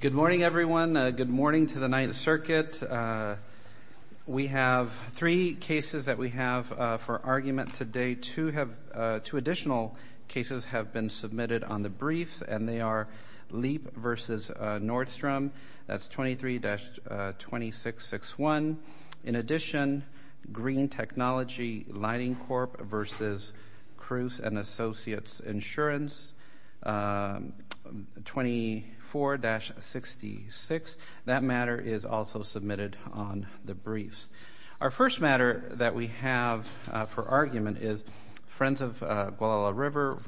Good morning, everyone. Good morning to the Ninth Circuit. We have three cases that we have for argument today. Two additional cases have been submitted on the briefs, and they are Leap v. Nordstrom. That's 23-2661. In addition, Green Technology Lining Corp. v. Cruz & Associates Insurance, 24-66. That matter is also submitted on the briefs. Our first matter that we have for argument is Friends of Gualala River v.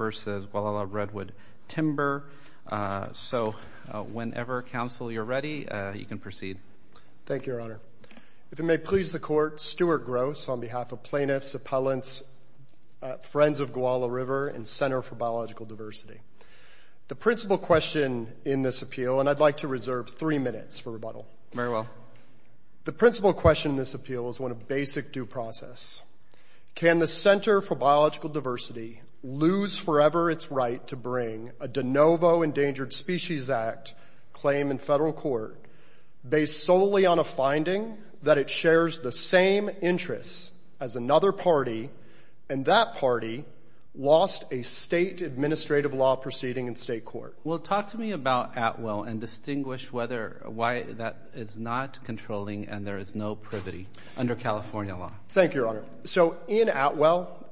Gualala Redwood Timber. So whenever, Counsel, you're ready, you can proceed. Thank you, Your Honor. If it may please the Court, I'm Stuart Gross on behalf of Plaintiffs, Appellants, Friends of Gualala River, and Center for Biological Diversity. The principal question in this appeal, and I'd like to reserve three minutes for rebuttal. Very well. The principal question in this appeal is one of basic due process. Can the Center for Biological Diversity lose forever its right to bring a de novo Endangered Species Act claim in federal court based solely on a finding that it shares the same interests as another party, and that party lost a state administrative law proceeding in state court? Well, talk to me about Atwell and distinguish why that is not controlling and there is no privity under California law. Thank you, Your Honor. So in Atwell,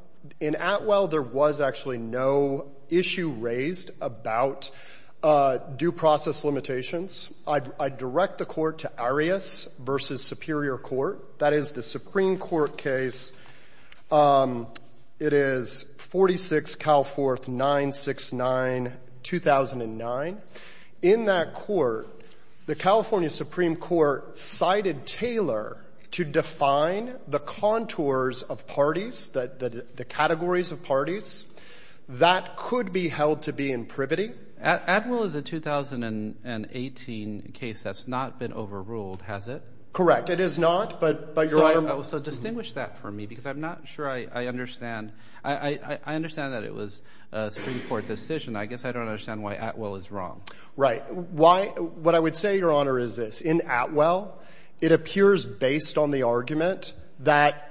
there was actually no issue raised about due process limitations. I direct the Court to Arias v. Superior Court. That is the Supreme Court case. It is 46, Cal Fourth, 969, 2009. In that court, the California Supreme Court cited Taylor to define the contours of parties, the categories of parties. That could be held to be in privity. Atwell is the 2018 case that's not been overruled, has it? Correct. It is not, but, Your Honor. So distinguish that for me because I'm not sure I understand. I understand that it was a Supreme Court decision. I guess I don't understand why Atwell is wrong. Right. Why? What I would say, Your Honor, is this. In Atwell, it appears based on the argument that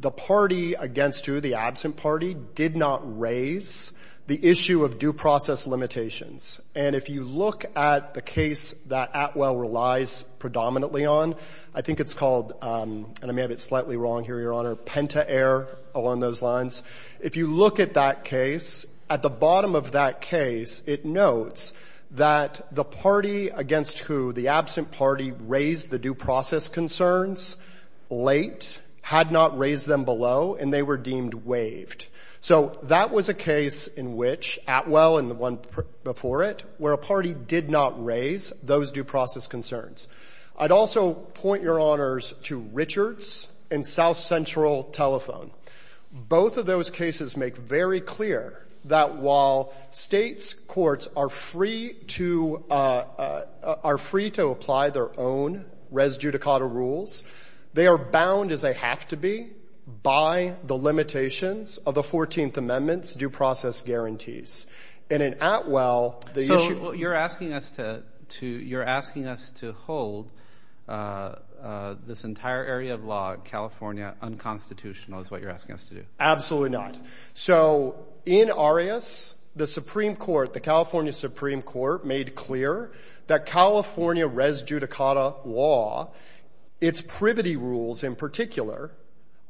the party against who, the absent party, did not raise the issue of due process limitations. And if you look at the case that Atwell relies predominantly on, I think it's called, and I may have it slightly wrong here, Your Honor, Pentaere, along those lines. If you look at that case, at the bottom of that case, it notes that the party against who, the absent party, raised the due process concerns late, had not raised them below, and they were deemed waived. So that was a case in which Atwell and the one before it, where a party did not raise those due process concerns. I'd also point, Your Honors, to Richards and South Central Telephone. Both of those cases make very clear that while states' courts are free to, are free to apply their own res judicata rules, they are bound as they have to be by the limitations of the 14th Amendment's due process guarantees. And in Atwell, the issue... So, you're asking us to, you're asking us to hold this entire area of law in California unconstitutional is what you're asking us to do. Absolutely not. So, in Arias, the Supreme Court, the California Supreme Court, made clear that California res judicata law, its privity rules in particular,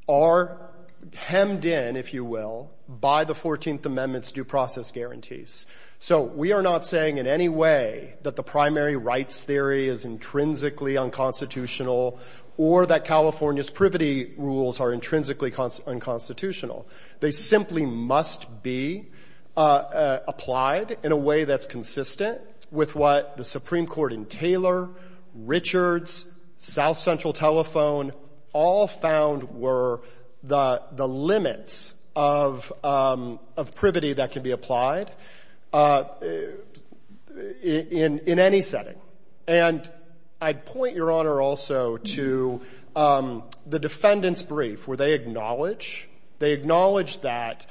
are unconstitutional. Hemmed in, if you will, by the 14th Amendment's due process guarantees. So, we are not saying in any way that the primary rights theory is intrinsically unconstitutional or that California's privity rules are intrinsically unconstitutional. They simply must be applied in a way that's consistent with what the Supreme Court in Taylor, Richards, South Central Telephone, all found were the limits of privity that can be applied in any setting. And I'd point your honor also to the defendant's brief, where they acknowledge, they acknowledge that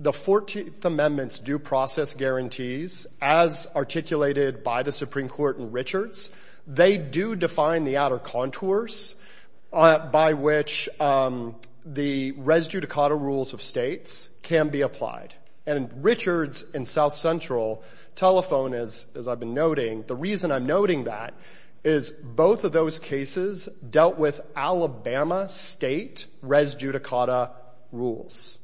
the 14th Amendment's due process guarantees, as articulated by the Supreme Court in Richards, they do define the outer contours by which the res judicata rules of states can be applied. And Richards and South Central Telephone, as I've been noting, the reason I'm noting that is both of those cases dealt with Alabama state res judicata rules.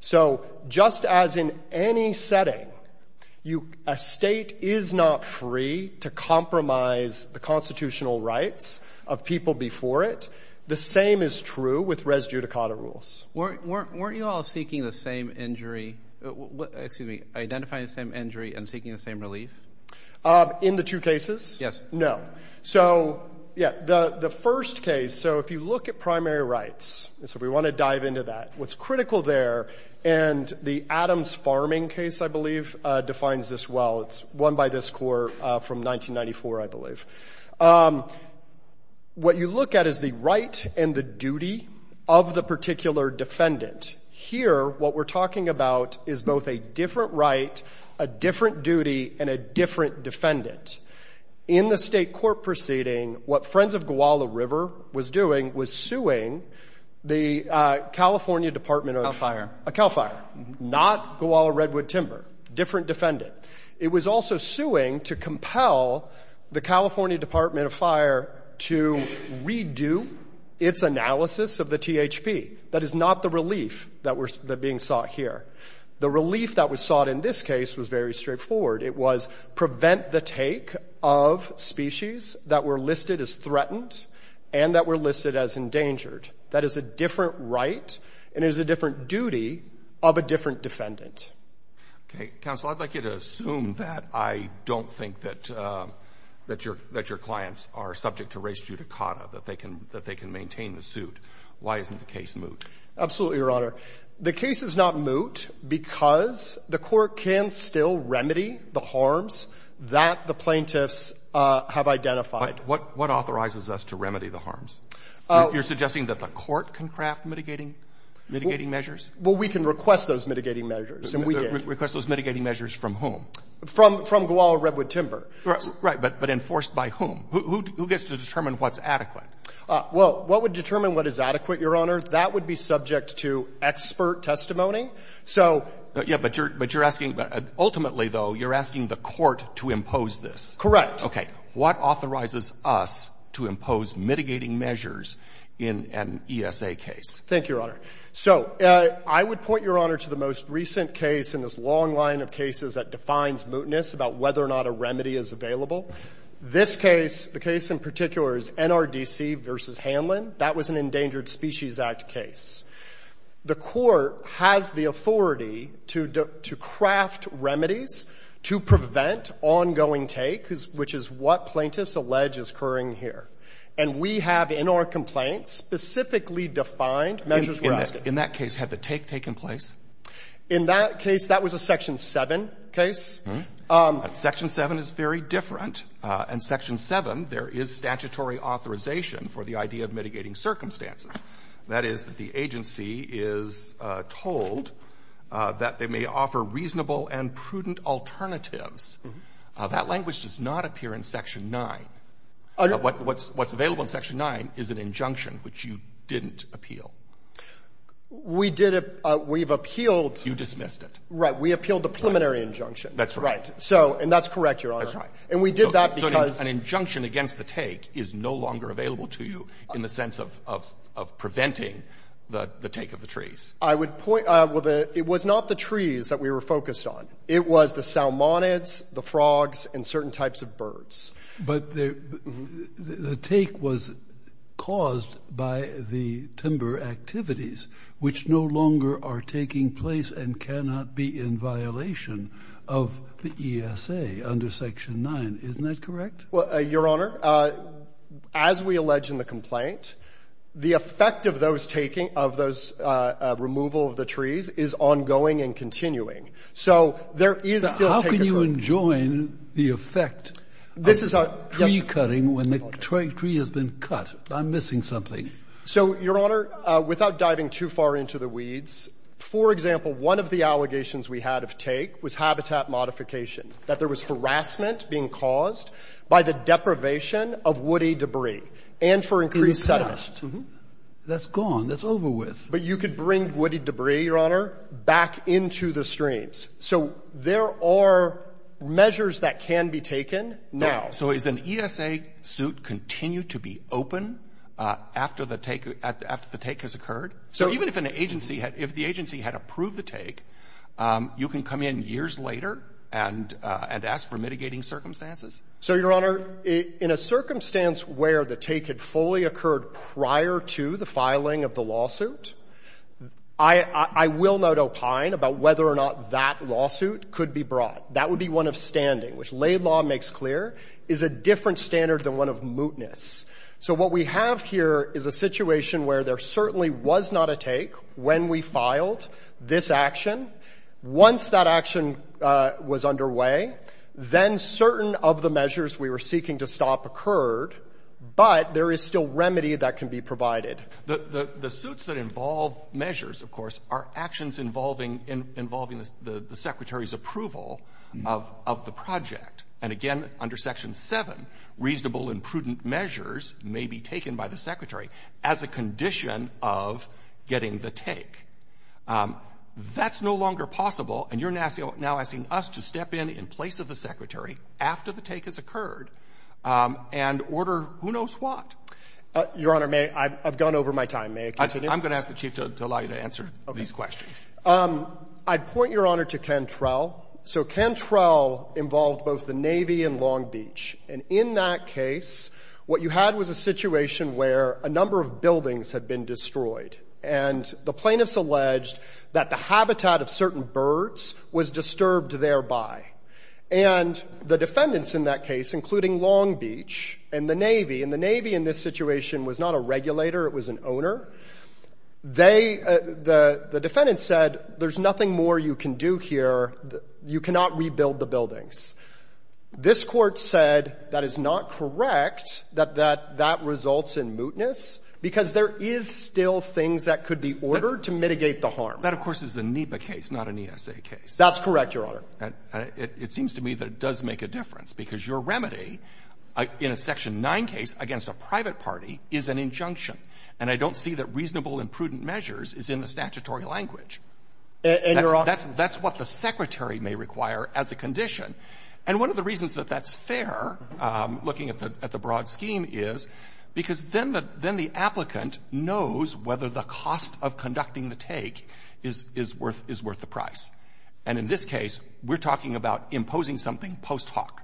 So, just as in any setting, you, a state is not free to compromise the constitutional rights of people before it, the same is true with res judicata rules. Weren't, weren't, weren't you all seeking the same injury, excuse me, identifying the same injury and seeking the same relief? In the two cases? Yes. No. So, yeah, the, the first case, so if you look at primary rights, and so if we want to dive into that, what's critical there, and the Adams Farming case, I believe, defines this well. It's won by this court from 1994, I believe. What you look at is the right and the duty of the particular defendant. Here, what we're talking about is both a different right, a different duty, and a different defendant. In the state court proceeding, what Friends of Guala River was doing was suing the California Department of, CAL FIRE. CAL FIRE, not Guala Redwood Timber, different defendant. It was also suing to compel the California Department of Fire to redo its analysis of the THP. That is not the relief that was being sought here. The relief that was sought in this case was very straightforward. It was prevent the take of species that were listed as threatened and that were listed as endangered. That is a different right and is a different duty of a different defendant. Okay. Counsel, I'd like you to assume that I don't think that, that your, that your clients are subject to res judicata, that they can, that they can maintain the suit. Why isn't the case moot? Absolutely, Your Honor. The case is not moot because the court can still remedy the harms that the plaintiffs have identified. What authorizes us to remedy the harms? You're suggesting that the court can craft mitigating measures? Well, we can request those mitigating measures, and we did. Request those mitigating measures from whom? From Guala Redwood Timber. Right, but enforced by whom? Who gets to determine what's adequate? Well, what would determine what is adequate, Your Honor? That would be subject to expert testimony. So But, yeah, but you're, but you're asking, ultimately, though, you're asking the court to impose this. Okay. What authorizes us to impose mitigating measures in an ESA case? Thank you, Your Honor. So I would point, Your Honor, to the most recent case in this long line of cases that defines mootness about whether or not a remedy is available. This case, the case in particular is NRDC v. Hanlon. That was an Endangered Species Act case. The court has the authority to craft remedies to prevent ongoing take, which is what plaintiffs allege is occurring here. And we have, in our complaints, specifically defined measures we're asking. In that case, had the take taken place? In that case, that was a Section 7 case. Section 7 is very different. In Section 7, there is statutory authorization for the idea of mitigating circumstances. That is, the agency is told that they may offer reasonable and prudent alternatives. That language does not appear in Section 9. What's available in Section 9 is an injunction which you didn't appeal. We did, we've appealed You dismissed it. Right. We appealed the preliminary injunction. That's right. Right. So, and that's correct, Your Honor. And we did that because An injunction against the take is no longer available to you in the sense of preventing the take of the trees. I would point, well, it was not the trees that we were focused on. It was the salmonids, the frogs, and certain types of birds. But the take was caused by the timber activities, which no longer are taking place and cannot be in violation of the ESA under Section 9. Isn't that correct? Your Honor, as we allege in the complaint, the effect of those taking, of those removal of the trees is ongoing and continuing. So there is still How can you enjoin the effect? This is tree cutting when the tree has been cut. I'm missing something. So, Your Honor, without diving too far into the weeds, for example, one of the allegations we had of take was habitat modification, that there was harassment being caused by the deprivation of woody debris and for increased sediment. That's gone. That's over with. But you could bring woody debris, Your Honor, back into the streams. So there are measures that can be taken now. So is an ESA suit continue to be open after the take has occurred? So even if the agency had approved the take, you can come in years later and ask for mitigating circumstances? So, Your Honor, in a circumstance where the take had fully occurred prior to the filing of the lawsuit, I will not opine about whether or not that lawsuit could be brought. That would be one of standing, which Laidlaw makes clear is a different standard than one of mootness. So what we have here is a situation where there certainly was not a take when we filed this action. Once that action was underway, then certain of the measures we were seeking to stop occurred, but there is still remedy that can be provided. The suits that involve measures, of course, are actions involving the Secretary's approval of the project. And, again, under Section 7, reasonable and prudent measures may be taken by the Secretary as a condition of getting the take. That's no longer possible, and you're now asking us to step in in place of the Secretary after the take has occurred and order who knows what. Your Honor, may I — I've gone over my time. May I continue? I'm going to ask the Chief to allow you to answer these questions. Okay. I'd point, Your Honor, to Cantrell. So Cantrell involved both the Navy and Long Beach. And in that case, what you had was a situation where a number of buildings had been destroyed. And the plaintiffs alleged that the habitat of certain birds was disturbed thereby. And the defendants in that case, including Long Beach and the Navy — and the Navy in this situation was not a regulator, it was an owner — they — the defendants said, there's nothing more you can do here. You cannot rebuild the buildings. This Court said that is not correct, that that results in mootness, because there is still things that could be ordered to mitigate the harm. That, of course, is a NEPA case, not an ESA case. That's correct, Your Honor. And it seems to me that it does make a difference, because your remedy in a Section 9 case against a private party is an injunction. And I don't see that reasonable and prudent measures is in the statutory language. And, Your Honor — That's what the Secretary may require as a condition. And one of the reasons that that's fair, looking at the broad scheme, is because then the applicant knows whether the cost of conducting the take is worth the price. And in this case, we're talking about imposing something post hoc.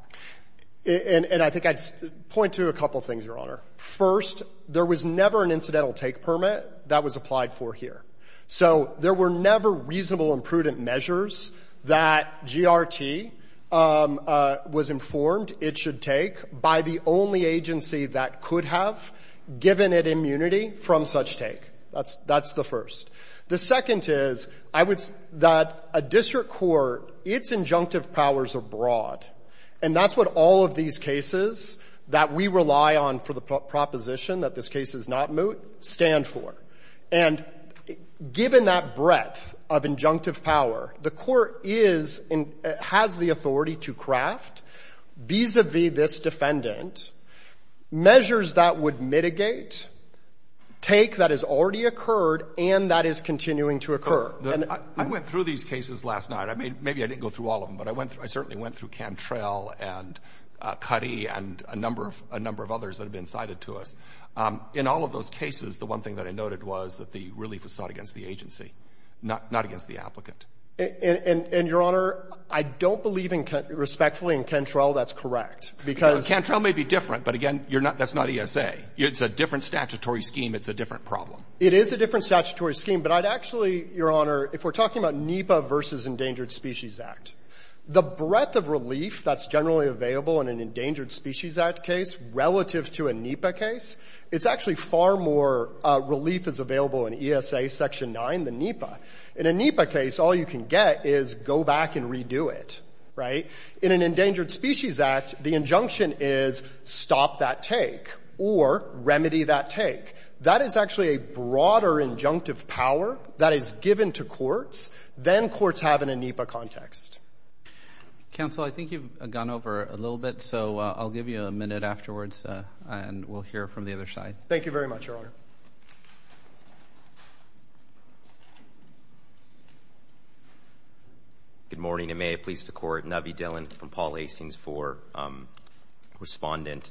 And I think I'd point to a couple things, Your Honor. First, there was never an incidental take permit that was applied for here. So there were never reasonable and prudent measures that GRT was informed it should take by the only agency that could have given it immunity from such take. That's the first. The second is, I would — that a district court, its injunctive powers are broad. And that's what all of these cases that we rely on for the proposition that this case is not moot stand for. And given that breadth of injunctive power, the Court is — has the authority to craft vis-a-vis this defendant measures that would mitigate take that has already occurred and that is continuing to occur. And — I went through these cases last night. I made — maybe I didn't go through all of them, but I went through — I certainly went through Cantrell and Cuddy and a number of — a number of others that have been cited to us. In all of those cases, the one thing that I noted was that the relief was sought against the agency, not against the applicant. And, Your Honor, I don't believe respectfully in Cantrell. That's correct. Because — Cantrell may be different, but again, you're not — that's not ESA. It's a different statutory scheme. It's a different problem. It is a different statutory scheme, but I'd actually, Your Honor, if we're talking about NEPA versus Endangered Species Act, the breadth of relief that's generally available in an Endangered Species Act case relative to a NEPA case, it's actually far more relief is available in ESA Section 9 than NEPA. In a NEPA case, all you can get is go back and redo it. Right? In an Endangered Species Act, the injunction is stop that take or remedy that take. That is actually a broader injunctive power that is given to courts than courts have in a NEPA context. Counsel, I think you've gone over a little bit, so I'll give you a minute afterwards and we'll hear from the other side. Thank you very much, Your Honor. Good morning, and may it please the Court. Navi Dhillon from Paul Hastings IV, Respondent.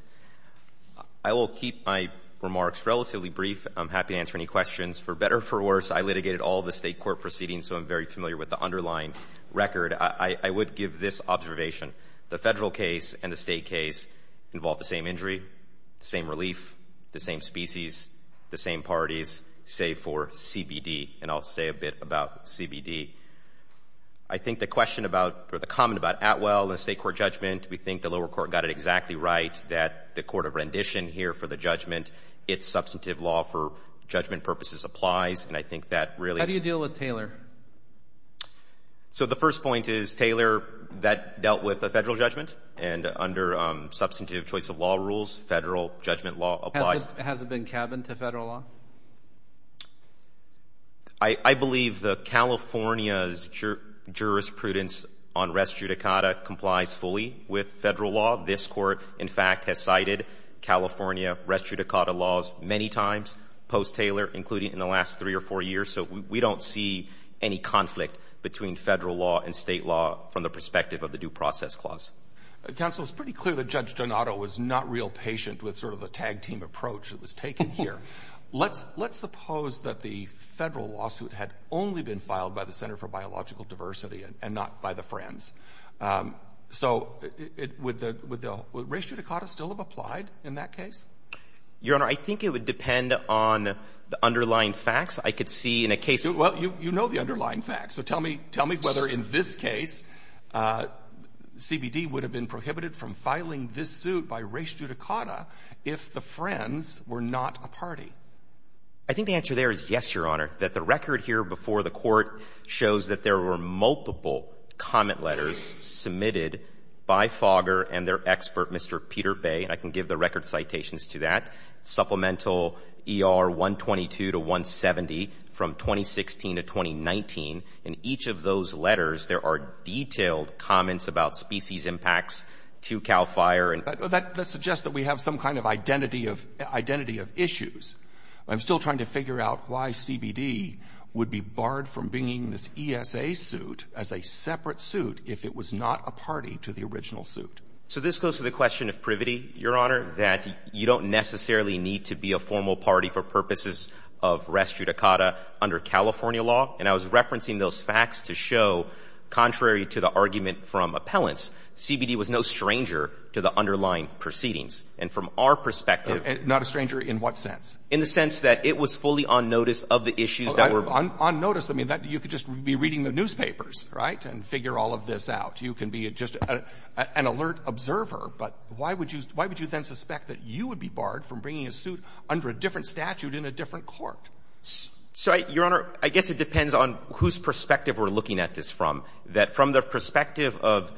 I will keep my remarks relatively brief. I'm happy to answer any questions. For better or for worse, I litigated all the State court proceedings, so I'm very familiar with the underlying record. I would give this observation. The Federal case and the State case involved the same injury, the same relief, the same species, the same parties, save for CBD, and I'll say a bit about CBD. I think the question about or the comment about Atwell and the State court judgment, we think the lower court got it exactly right, that the court of rendition here for the judgment, its substantive law for judgment purposes applies, and I think that really How do you deal with Taylor? So the first point is Taylor, that dealt with a Federal judgment, and under substantive choice of law rules, Federal judgment law applies. Has it been cabined to Federal law? I believe that California's jurisprudence on res judicata complies fully with Federal law. This court, in fact, has cited California res judicata laws many times post-Taylor, including in the last three or four years, so we don't see any conflict between Federal law and State law from the perspective of the due process clause. Counsel, it's pretty clear that Judge Donato was not real patient with sort of the tag team approach that was taken here. Let's suppose that the Federal lawsuit had only been filed by the Center for Biological Diversity and not by the Friends. So would res judicata still have applied in that case? Your Honor, I think it would depend on the underlying facts. I could see in a case Well, you know the underlying facts, so tell me whether in this case CBD would have been I think the answer there is yes, Your Honor. That the record here before the Court shows that there were multiple comment letters submitted by Fogger and their expert, Mr. Peter Bay, and I can give the record citations to that. Supplemental ER 122 to 170 from 2016 to 2019. In each of those letters there are detailed comments about species impacts to CAL FIRE and That suggests that we have some kind of identity of issues. I'm still trying to figure out why CBD would be barred from bringing this ESA suit as a separate suit if it was not a party to the original suit. So this goes to the question of privity, Your Honor, that you don't necessarily need to be a formal party for purposes of res judicata under California law. And I was referencing those facts to show, contrary to the argument from appellants, CBD was no stranger to the underlying proceedings. And from our perspective Not a stranger in what sense? In the sense that it was fully on notice of the issues that were On notice. I mean, you could just be reading the newspapers, right, and figure all of this out. You can be just an alert observer. But why would you then suspect that you would be barred from bringing a suit under a different statute in a different court? So, Your Honor, I guess it depends on whose perspective we're looking at this from, that from the perspective of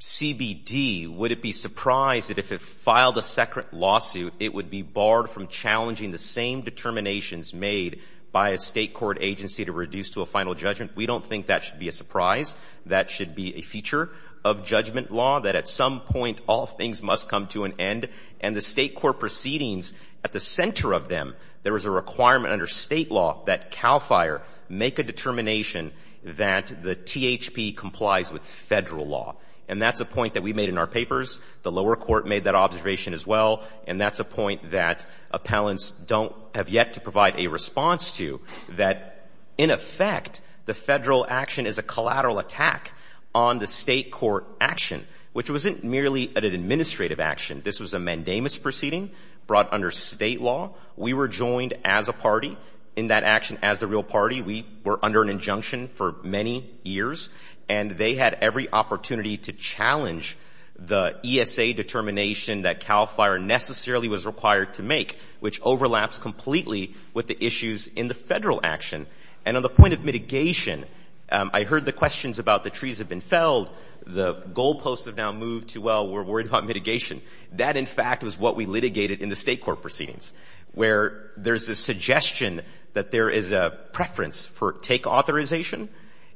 CBD, would it be surprised that if it filed a separate lawsuit, it would be barred from challenging the same determinations made by a state court agency to reduce to a final judgment? We don't think that should be a surprise. That should be a feature of judgment law, that at some point all things must come to an end. And the state court proceedings, at the center of them, there is a requirement under state law that CAL FIRE make a determination that the THP complies with federal law. And that's a point that we made in our papers. The lower court made that observation as well. And that's a point that appellants don't have yet to provide a response to. That, in effect, the federal action is a collateral attack on the state court action, which wasn't merely an administrative action. This was a mandamus proceeding brought under state law. We were joined as a party in that action as a real party. We were under an injunction for many years. And they had every opportunity to challenge the ESA determination that CAL FIRE necessarily was required to make, which overlaps completely with the issues in the federal action. And on the point of mitigation, I heard the questions about the trees have been felled, the goal posts have now moved to, well, we're worried about mitigation. That, in fact, was what we litigated in the state court proceedings. Where there's a suggestion that there is a preference for take authorization,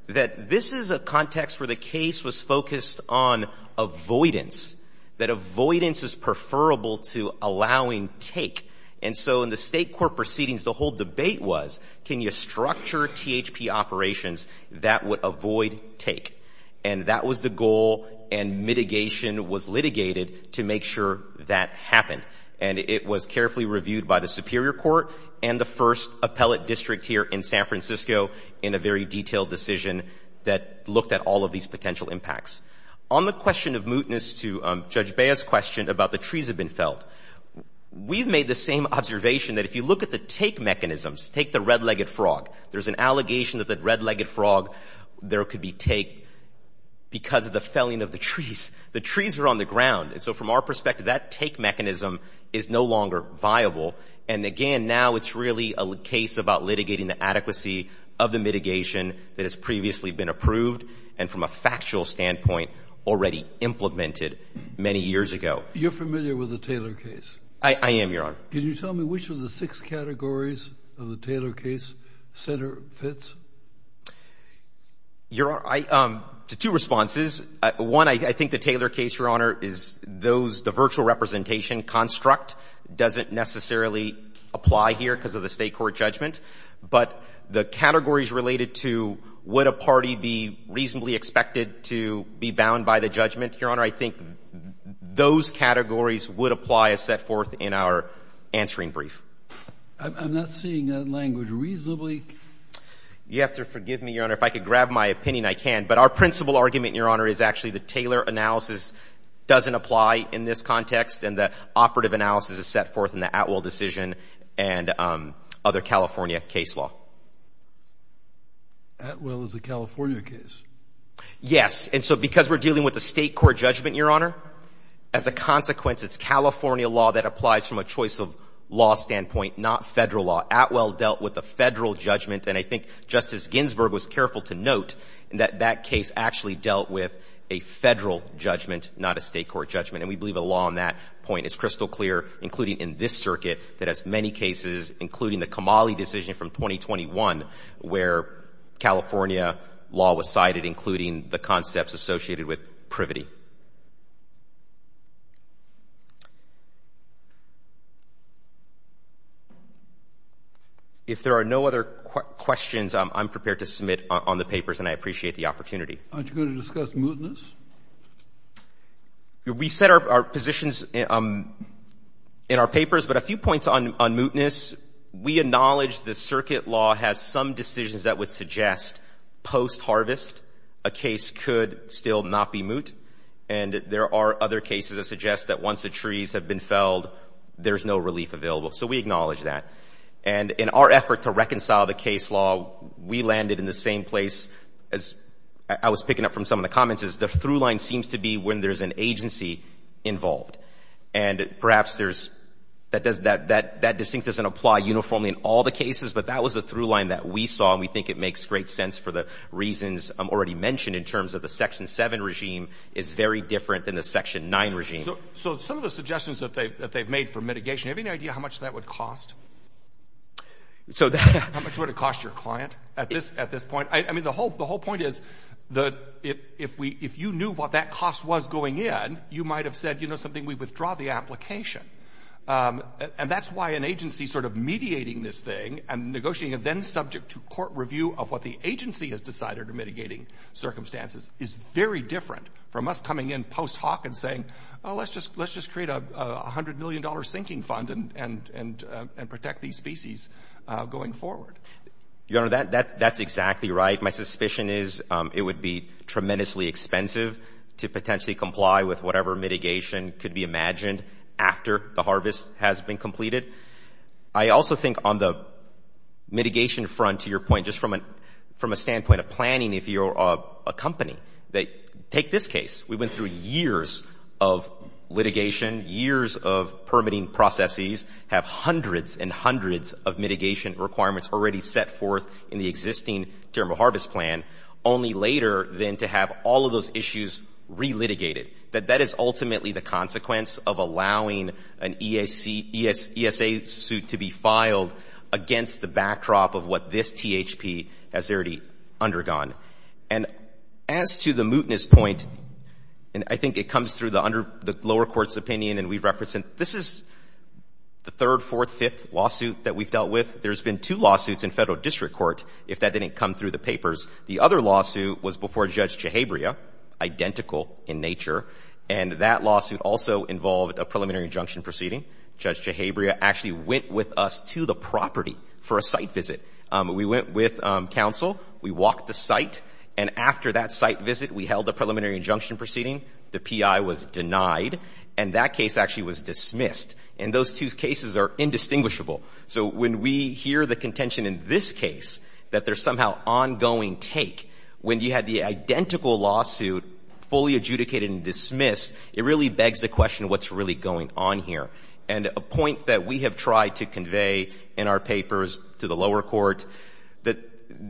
that this is a context where the case was focused on avoidance, that avoidance is preferable to allowing take. And so in the state court proceedings, the whole debate was, can you structure THP operations that would avoid take? And that was the goal, and mitigation was litigated to make sure that happened. And it was carefully reviewed by the superior court and the first appellate district here in San Francisco in a very detailed decision that looked at all of these potential impacts. On the question of mootness to Judge Baez's question about the trees have been felled, we've made the same observation that if you look at the take mechanisms, take the red-legged frog, there's an allegation that the red-legged frog, there could be take because of the felling of the trees. The trees are on the ground. And so from our perspective, that take mechanism is no longer viable. And, again, now it's really a case about litigating the adequacy of the mitigation that has previously been approved and from a factual standpoint already implemented many years ago. You're familiar with the Taylor case? I am, Your Honor. Can you tell me which of the six categories of the Taylor case center fits? Your Honor, two responses. One, I think the Taylor case, Your Honor, is those the virtual representation construct doesn't necessarily apply here because of the State court judgment. But the categories related to would a party be reasonably expected to be bound by the judgment, Your Honor, I think those categories would apply as set forth in our answering brief. I'm not seeing that language reasonably. You have to forgive me, Your Honor. If I could grab my opinion, I can. But our principal argument, Your Honor, is actually the Taylor analysis doesn't apply in this context. And the operative analysis is set forth in the Atwell decision and other California case law. Atwell is a California case? Yes. And so because we're dealing with a State court judgment, Your Honor, as a consequence, it's California law that applies from a choice of law standpoint, not Federal law. Atwell dealt with a Federal judgment. And I think Justice Ginsburg was careful to note that that case actually dealt with a Federal judgment, not a State court judgment. And we believe the law on that point is crystal clear, including in this circuit, that has many cases, including the Kamali decision from 2021, where California law was cited, including the concepts associated with privity. If there are no other questions, I'm prepared to submit on the papers, and I appreciate the opportunity. Aren't you going to discuss mootness? We set our positions in our papers, but a few points on mootness. We acknowledge the circuit law has some decisions that would suggest post-harvest a case could still not be moot. And there are other cases that suggest that once the trees have been felled, there's no relief available. So we acknowledge that. And in our effort to reconcile the case law, we landed in the same place, as I was picking up from some of the comments, is the through line seems to be when there's an agency involved. And perhaps there's — that distinct doesn't apply uniformly in all the cases, but that was the through line that we saw, and we think it makes great sense for the reasons already mentioned in terms of the Section 7 regime is very different than the Section 9 regime. So some of the suggestions that they've made for mitigation, do you have any idea how much that would cost? How much would it cost your client at this point? I mean, the whole point is that if you knew what that cost was going in, you might have said, you know something, we withdraw the application. And that's why an agency sort of mediating this thing and negotiating it then subject to court review of what the agency has decided are mitigating circumstances is very different from us coming in post hoc and saying, oh, let's just create a $100 million sinking fund and protect these species going forward. Your Honor, that's exactly right. My suspicion is it would be tremendously expensive to potentially comply with whatever mitigation could be imagined after the harvest has been completed. I also think on the mitigation front, to your point, just from a standpoint of planning, if you're a company, take this case. We went through years of litigation, years of permitting processes, have hundreds and hundreds of mitigation requirements already set forth in the existing term of harvest plan, only later then to have all of those issues relitigated. That that is ultimately the consequence of allowing an ESA suit to be filed against the backdrop of what this THP has already undergone. And as to the mootness point, and I think it comes through the lower court's opinion and we've referenced it, this is the third, fourth, fifth lawsuit that we've dealt with. There's been two lawsuits in Federal District Court, if that didn't come through the papers. The other lawsuit was before Judge Jehebria, identical in nature, and that lawsuit also involved a preliminary injunction proceeding. Judge Jehebria actually went with us to the property for a site visit. We went with counsel. We walked the site, and after that site visit, we held a preliminary injunction proceeding. The PI was denied, and that case actually was dismissed. And those two cases are indistinguishable. So when we hear the contention in this case that there's somehow ongoing take, when you had the identical lawsuit fully adjudicated and dismissed, it really begs the question, what's really going on here? And a point that we have tried to convey in our papers to the lower court, that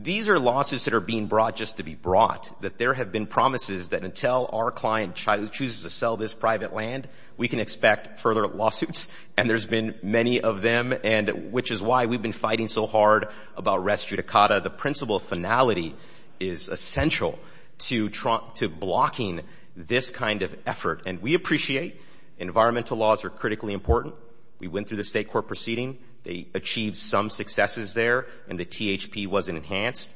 these are lawsuits that are being brought just to be brought, that there have been promises that until our client chooses to sell this private land, we can expect further lawsuits. And there's been many of them, and which is why we've been fighting so hard about rest judicata. The principle finality is essential to blocking this kind of effort. And we appreciate environmental laws are critically important. We went through the state court proceeding. They achieved some successes there, and the THP wasn't enhanced.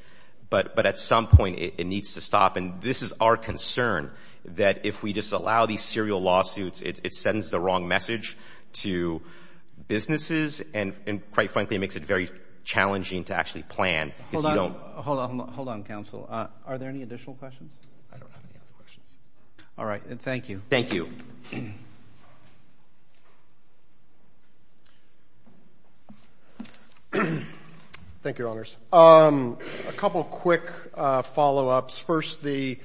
But at some point, it needs to stop. And this is our concern, that if we disallow these serial lawsuits, it sends the wrong message to businesses, and quite frankly, it makes it very challenging to actually plan. Because you don't Hold on. Hold on, counsel. Are there any additional questions? I don't have any other questions. All right. Thank you. Thank you. Thank you, Your Honors. A couple of quick follow-ups. First, the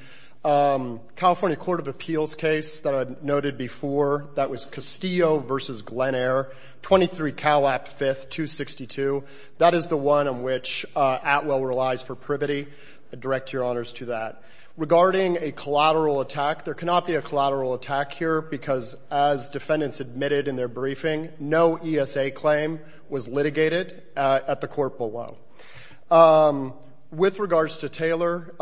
California Court of Appeals case that I noted before, that was Castillo v. Glen Eyre, 23 Cowlap 5th, 262. That is the one in which Atwell relies for privity. I direct your honors to that. Regarding a collateral attack, there cannot be a collateral attack here, because as defendants admitted in their briefing, no ESA claim was litigated at the court below. With regards to Taylor,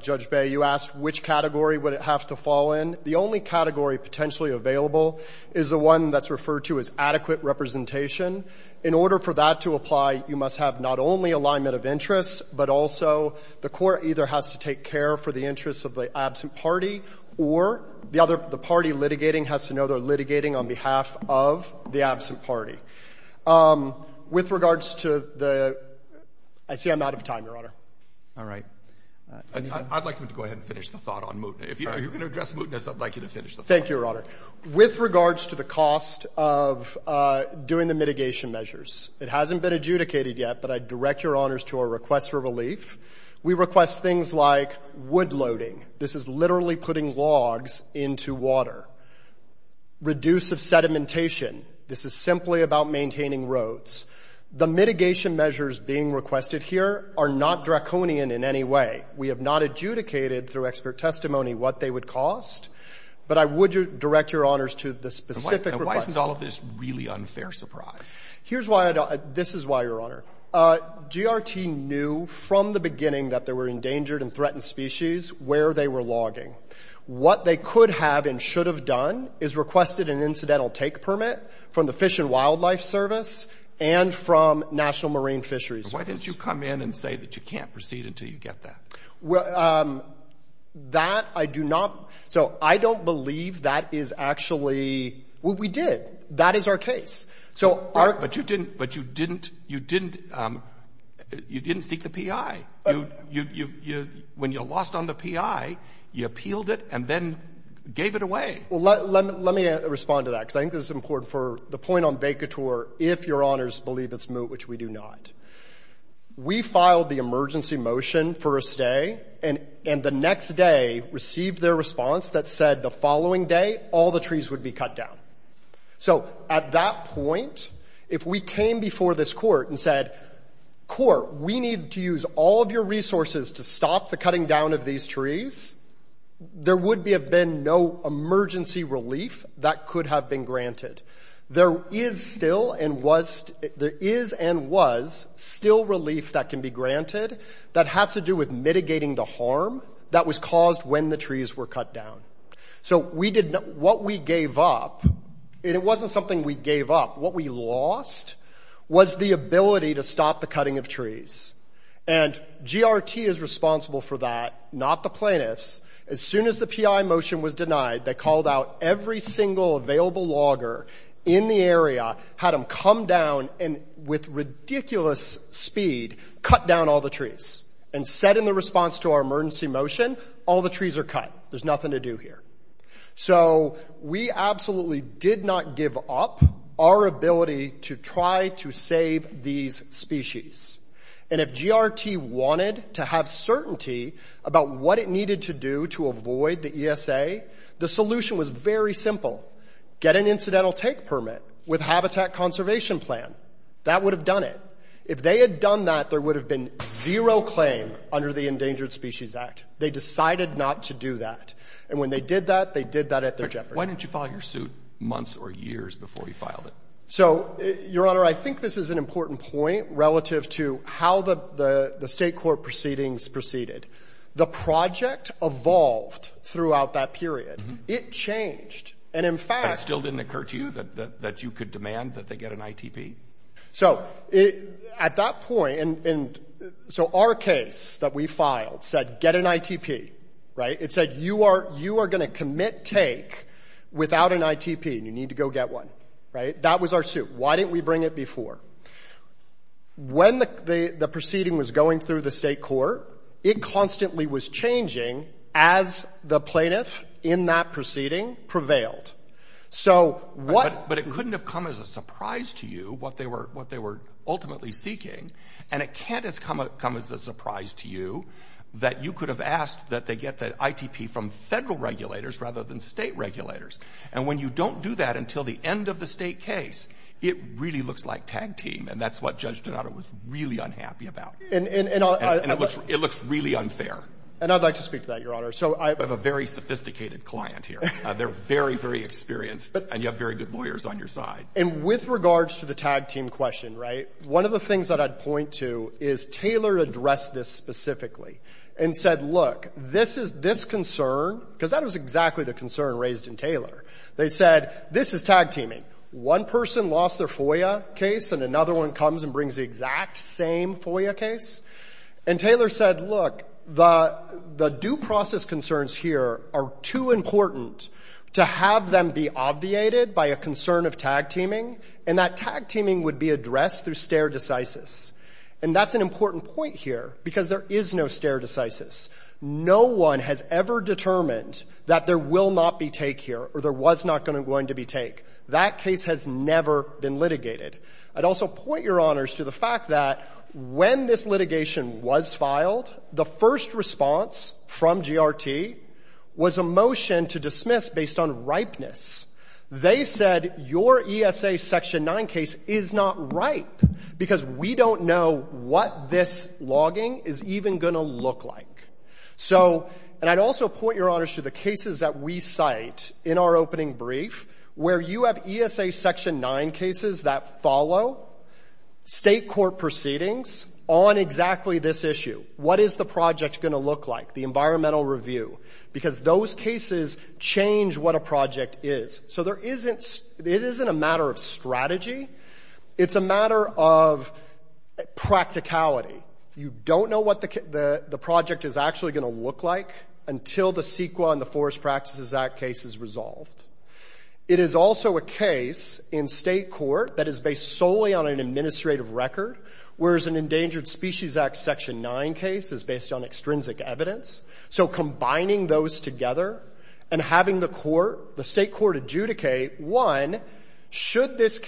Judge Bay, you asked which category would it have to fall in. The only category potentially available is the one that's referred to as adequate representation. In order for that to apply, you must have not only alignment of interests, but also the court either has to take care for the interests of the absent party, or the party litigating has to know they're litigating on behalf of the absent party. With regards to the... I see I'm out of time, Your Honor. All right. I'd like him to go ahead and finish the thought on mootness. If you're going to address mootness, I'd like you to finish the thought. Thank you, Your Honor. With regards to the cost of doing the mitigation measures, it hasn't been adjudicated yet, but I direct your honors to our request for relief. We request things like wood loading. This is literally putting logs into water. Reduce of sedimentation. This is simply about maintaining roads. The mitigation measures being requested here are not draconian in any way. We have not adjudicated through expert testimony what they would cost, but I would direct your honors to the specific request. And why isn't all of this really unfair surprise? Here's why I don't... This is why, Your Honor. GRT knew from the beginning that there were endangered and threatened species where they were logging. What they could have and should have done is requested an incidental take permit from the Fish and Wildlife Service and from National Marine Fisheries Service. Why didn't you come in and say that you can't proceed until you get that? That I do not... So I don't believe that is actually... Well, we did. That is our case. But you didn't... You didn't seek the PI. When you lost on the PI, you appealed it and then gave it away. Well, let me respond to that, because I think this is important for the point on vacatur, if your honors believe it's moot, which we do not. We filed the emergency motion for a stay, and the next day received their response that said the following day all the trees would be cut down. So at that point, if we came before this court and said, court, we need to use all of your resources to stop the cutting down of these trees, there would have been no emergency relief that could have been granted. There is still and was still relief that can be granted that has to do with mitigating the harm that was caused when the trees were cut down. So what we gave up, and it wasn't something we gave up, what we lost was the ability to stop the cutting of trees. And GRT is responsible for that, not the plaintiffs. As soon as the PI motion was denied, they called out every single available logger in the area, had them come down and with ridiculous speed cut down all the trees. And said in the response to our emergency motion, all the trees are cut. There's nothing to do here. So we absolutely did not give up our ability to try to save these species. And if GRT wanted to have certainty about what it needed to do to avoid the ESA, the solution was very simple. Get an incidental take permit with Habitat Conservation Plan. That would have done it. If they had done that, there would have been zero claim under the Endangered Species Act. They decided not to do that. And when they did that, they did that at their jeopardy. Why didn't you file your suit months or years before you filed it? Your Honor, I think this is an important point relative to how the state court proceedings proceeded. The project evolved throughout that period. It changed. But it still didn't occur to you that you could demand that they get an ITP? At that point, so our case that we filed said get an ITP. It said you are going to commit take without an ITP and you need to go get one. That was our suit. Why didn't we bring it before? When the proceeding was going through the state court, it constantly was changing as the plaintiff in that proceeding prevailed. But it couldn't have come as a surprise to you what they were ultimately seeking, and it can't have come as a surprise to you that you could have asked that they get the ITP from federal regulators rather than state regulators. And when you don't do that until the end of the state case, it really looks like tag team. And that's what Judge Donato was really unhappy about. And it looks really unfair. And I'd like to speak to that, Your Honor. So I have a very sophisticated client here. They're very, very experienced. And you have very good lawyers on your side. And with regards to the tag team question, right, one of the things that I'd point to is Taylor addressed this specifically and said, look, this is this concern because that was exactly the concern raised in Taylor. They said this is tag teaming. One person lost their FOIA case and another one comes and brings the exact same FOIA case. And Taylor said, look, the due process concerns here are too important to have them be obviated by a concern of tag teaming, and that tag teaming would be addressed through stare decisis. And that's an important point here because there is no stare decisis. No one has ever determined that there will not be take here or there was not going to be take. That case has never been litigated. I'd also point, Your Honors, to the fact that when this litigation was filed, the first response from GRT was a motion to dismiss based on ripeness. They said your ESA Section 9 case is not ripe because we don't know what this logging is even going to look like. And I'd also point, Your Honors, to the cases that we cite in our opening brief where you have ESA Section 9 cases that follow state court proceedings on exactly this issue. What is the project going to look like, the environmental review? Because those cases change what a project is. So it isn't a matter of strategy. It's a matter of practicality. You don't know what the project is actually going to look like until the CEQA and the Forest Practices Act case is resolved. It is also a case in state court that is based solely on an administrative record, whereas an Endangered Species Act Section 9 case is based on extrinsic evidence. So combining those together and having the state court adjudicate, one, should this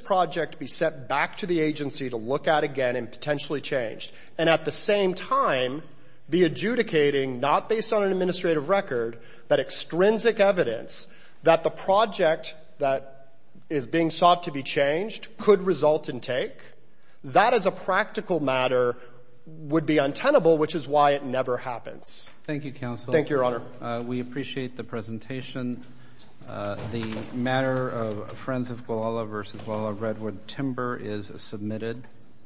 project be sent back to the agency to look at again and potentially changed, and at the same time be adjudicating, not based on an administrative record, but extrinsic evidence that the project that is being sought to be changed could result in take, that as a practical matter would be untenable, which is why it never happens. Thank you, Counsel. Thank you, Your Honor. We appreciate the presentation. The matter of Friends of Guala v. Guala Redwood Timber is submitted.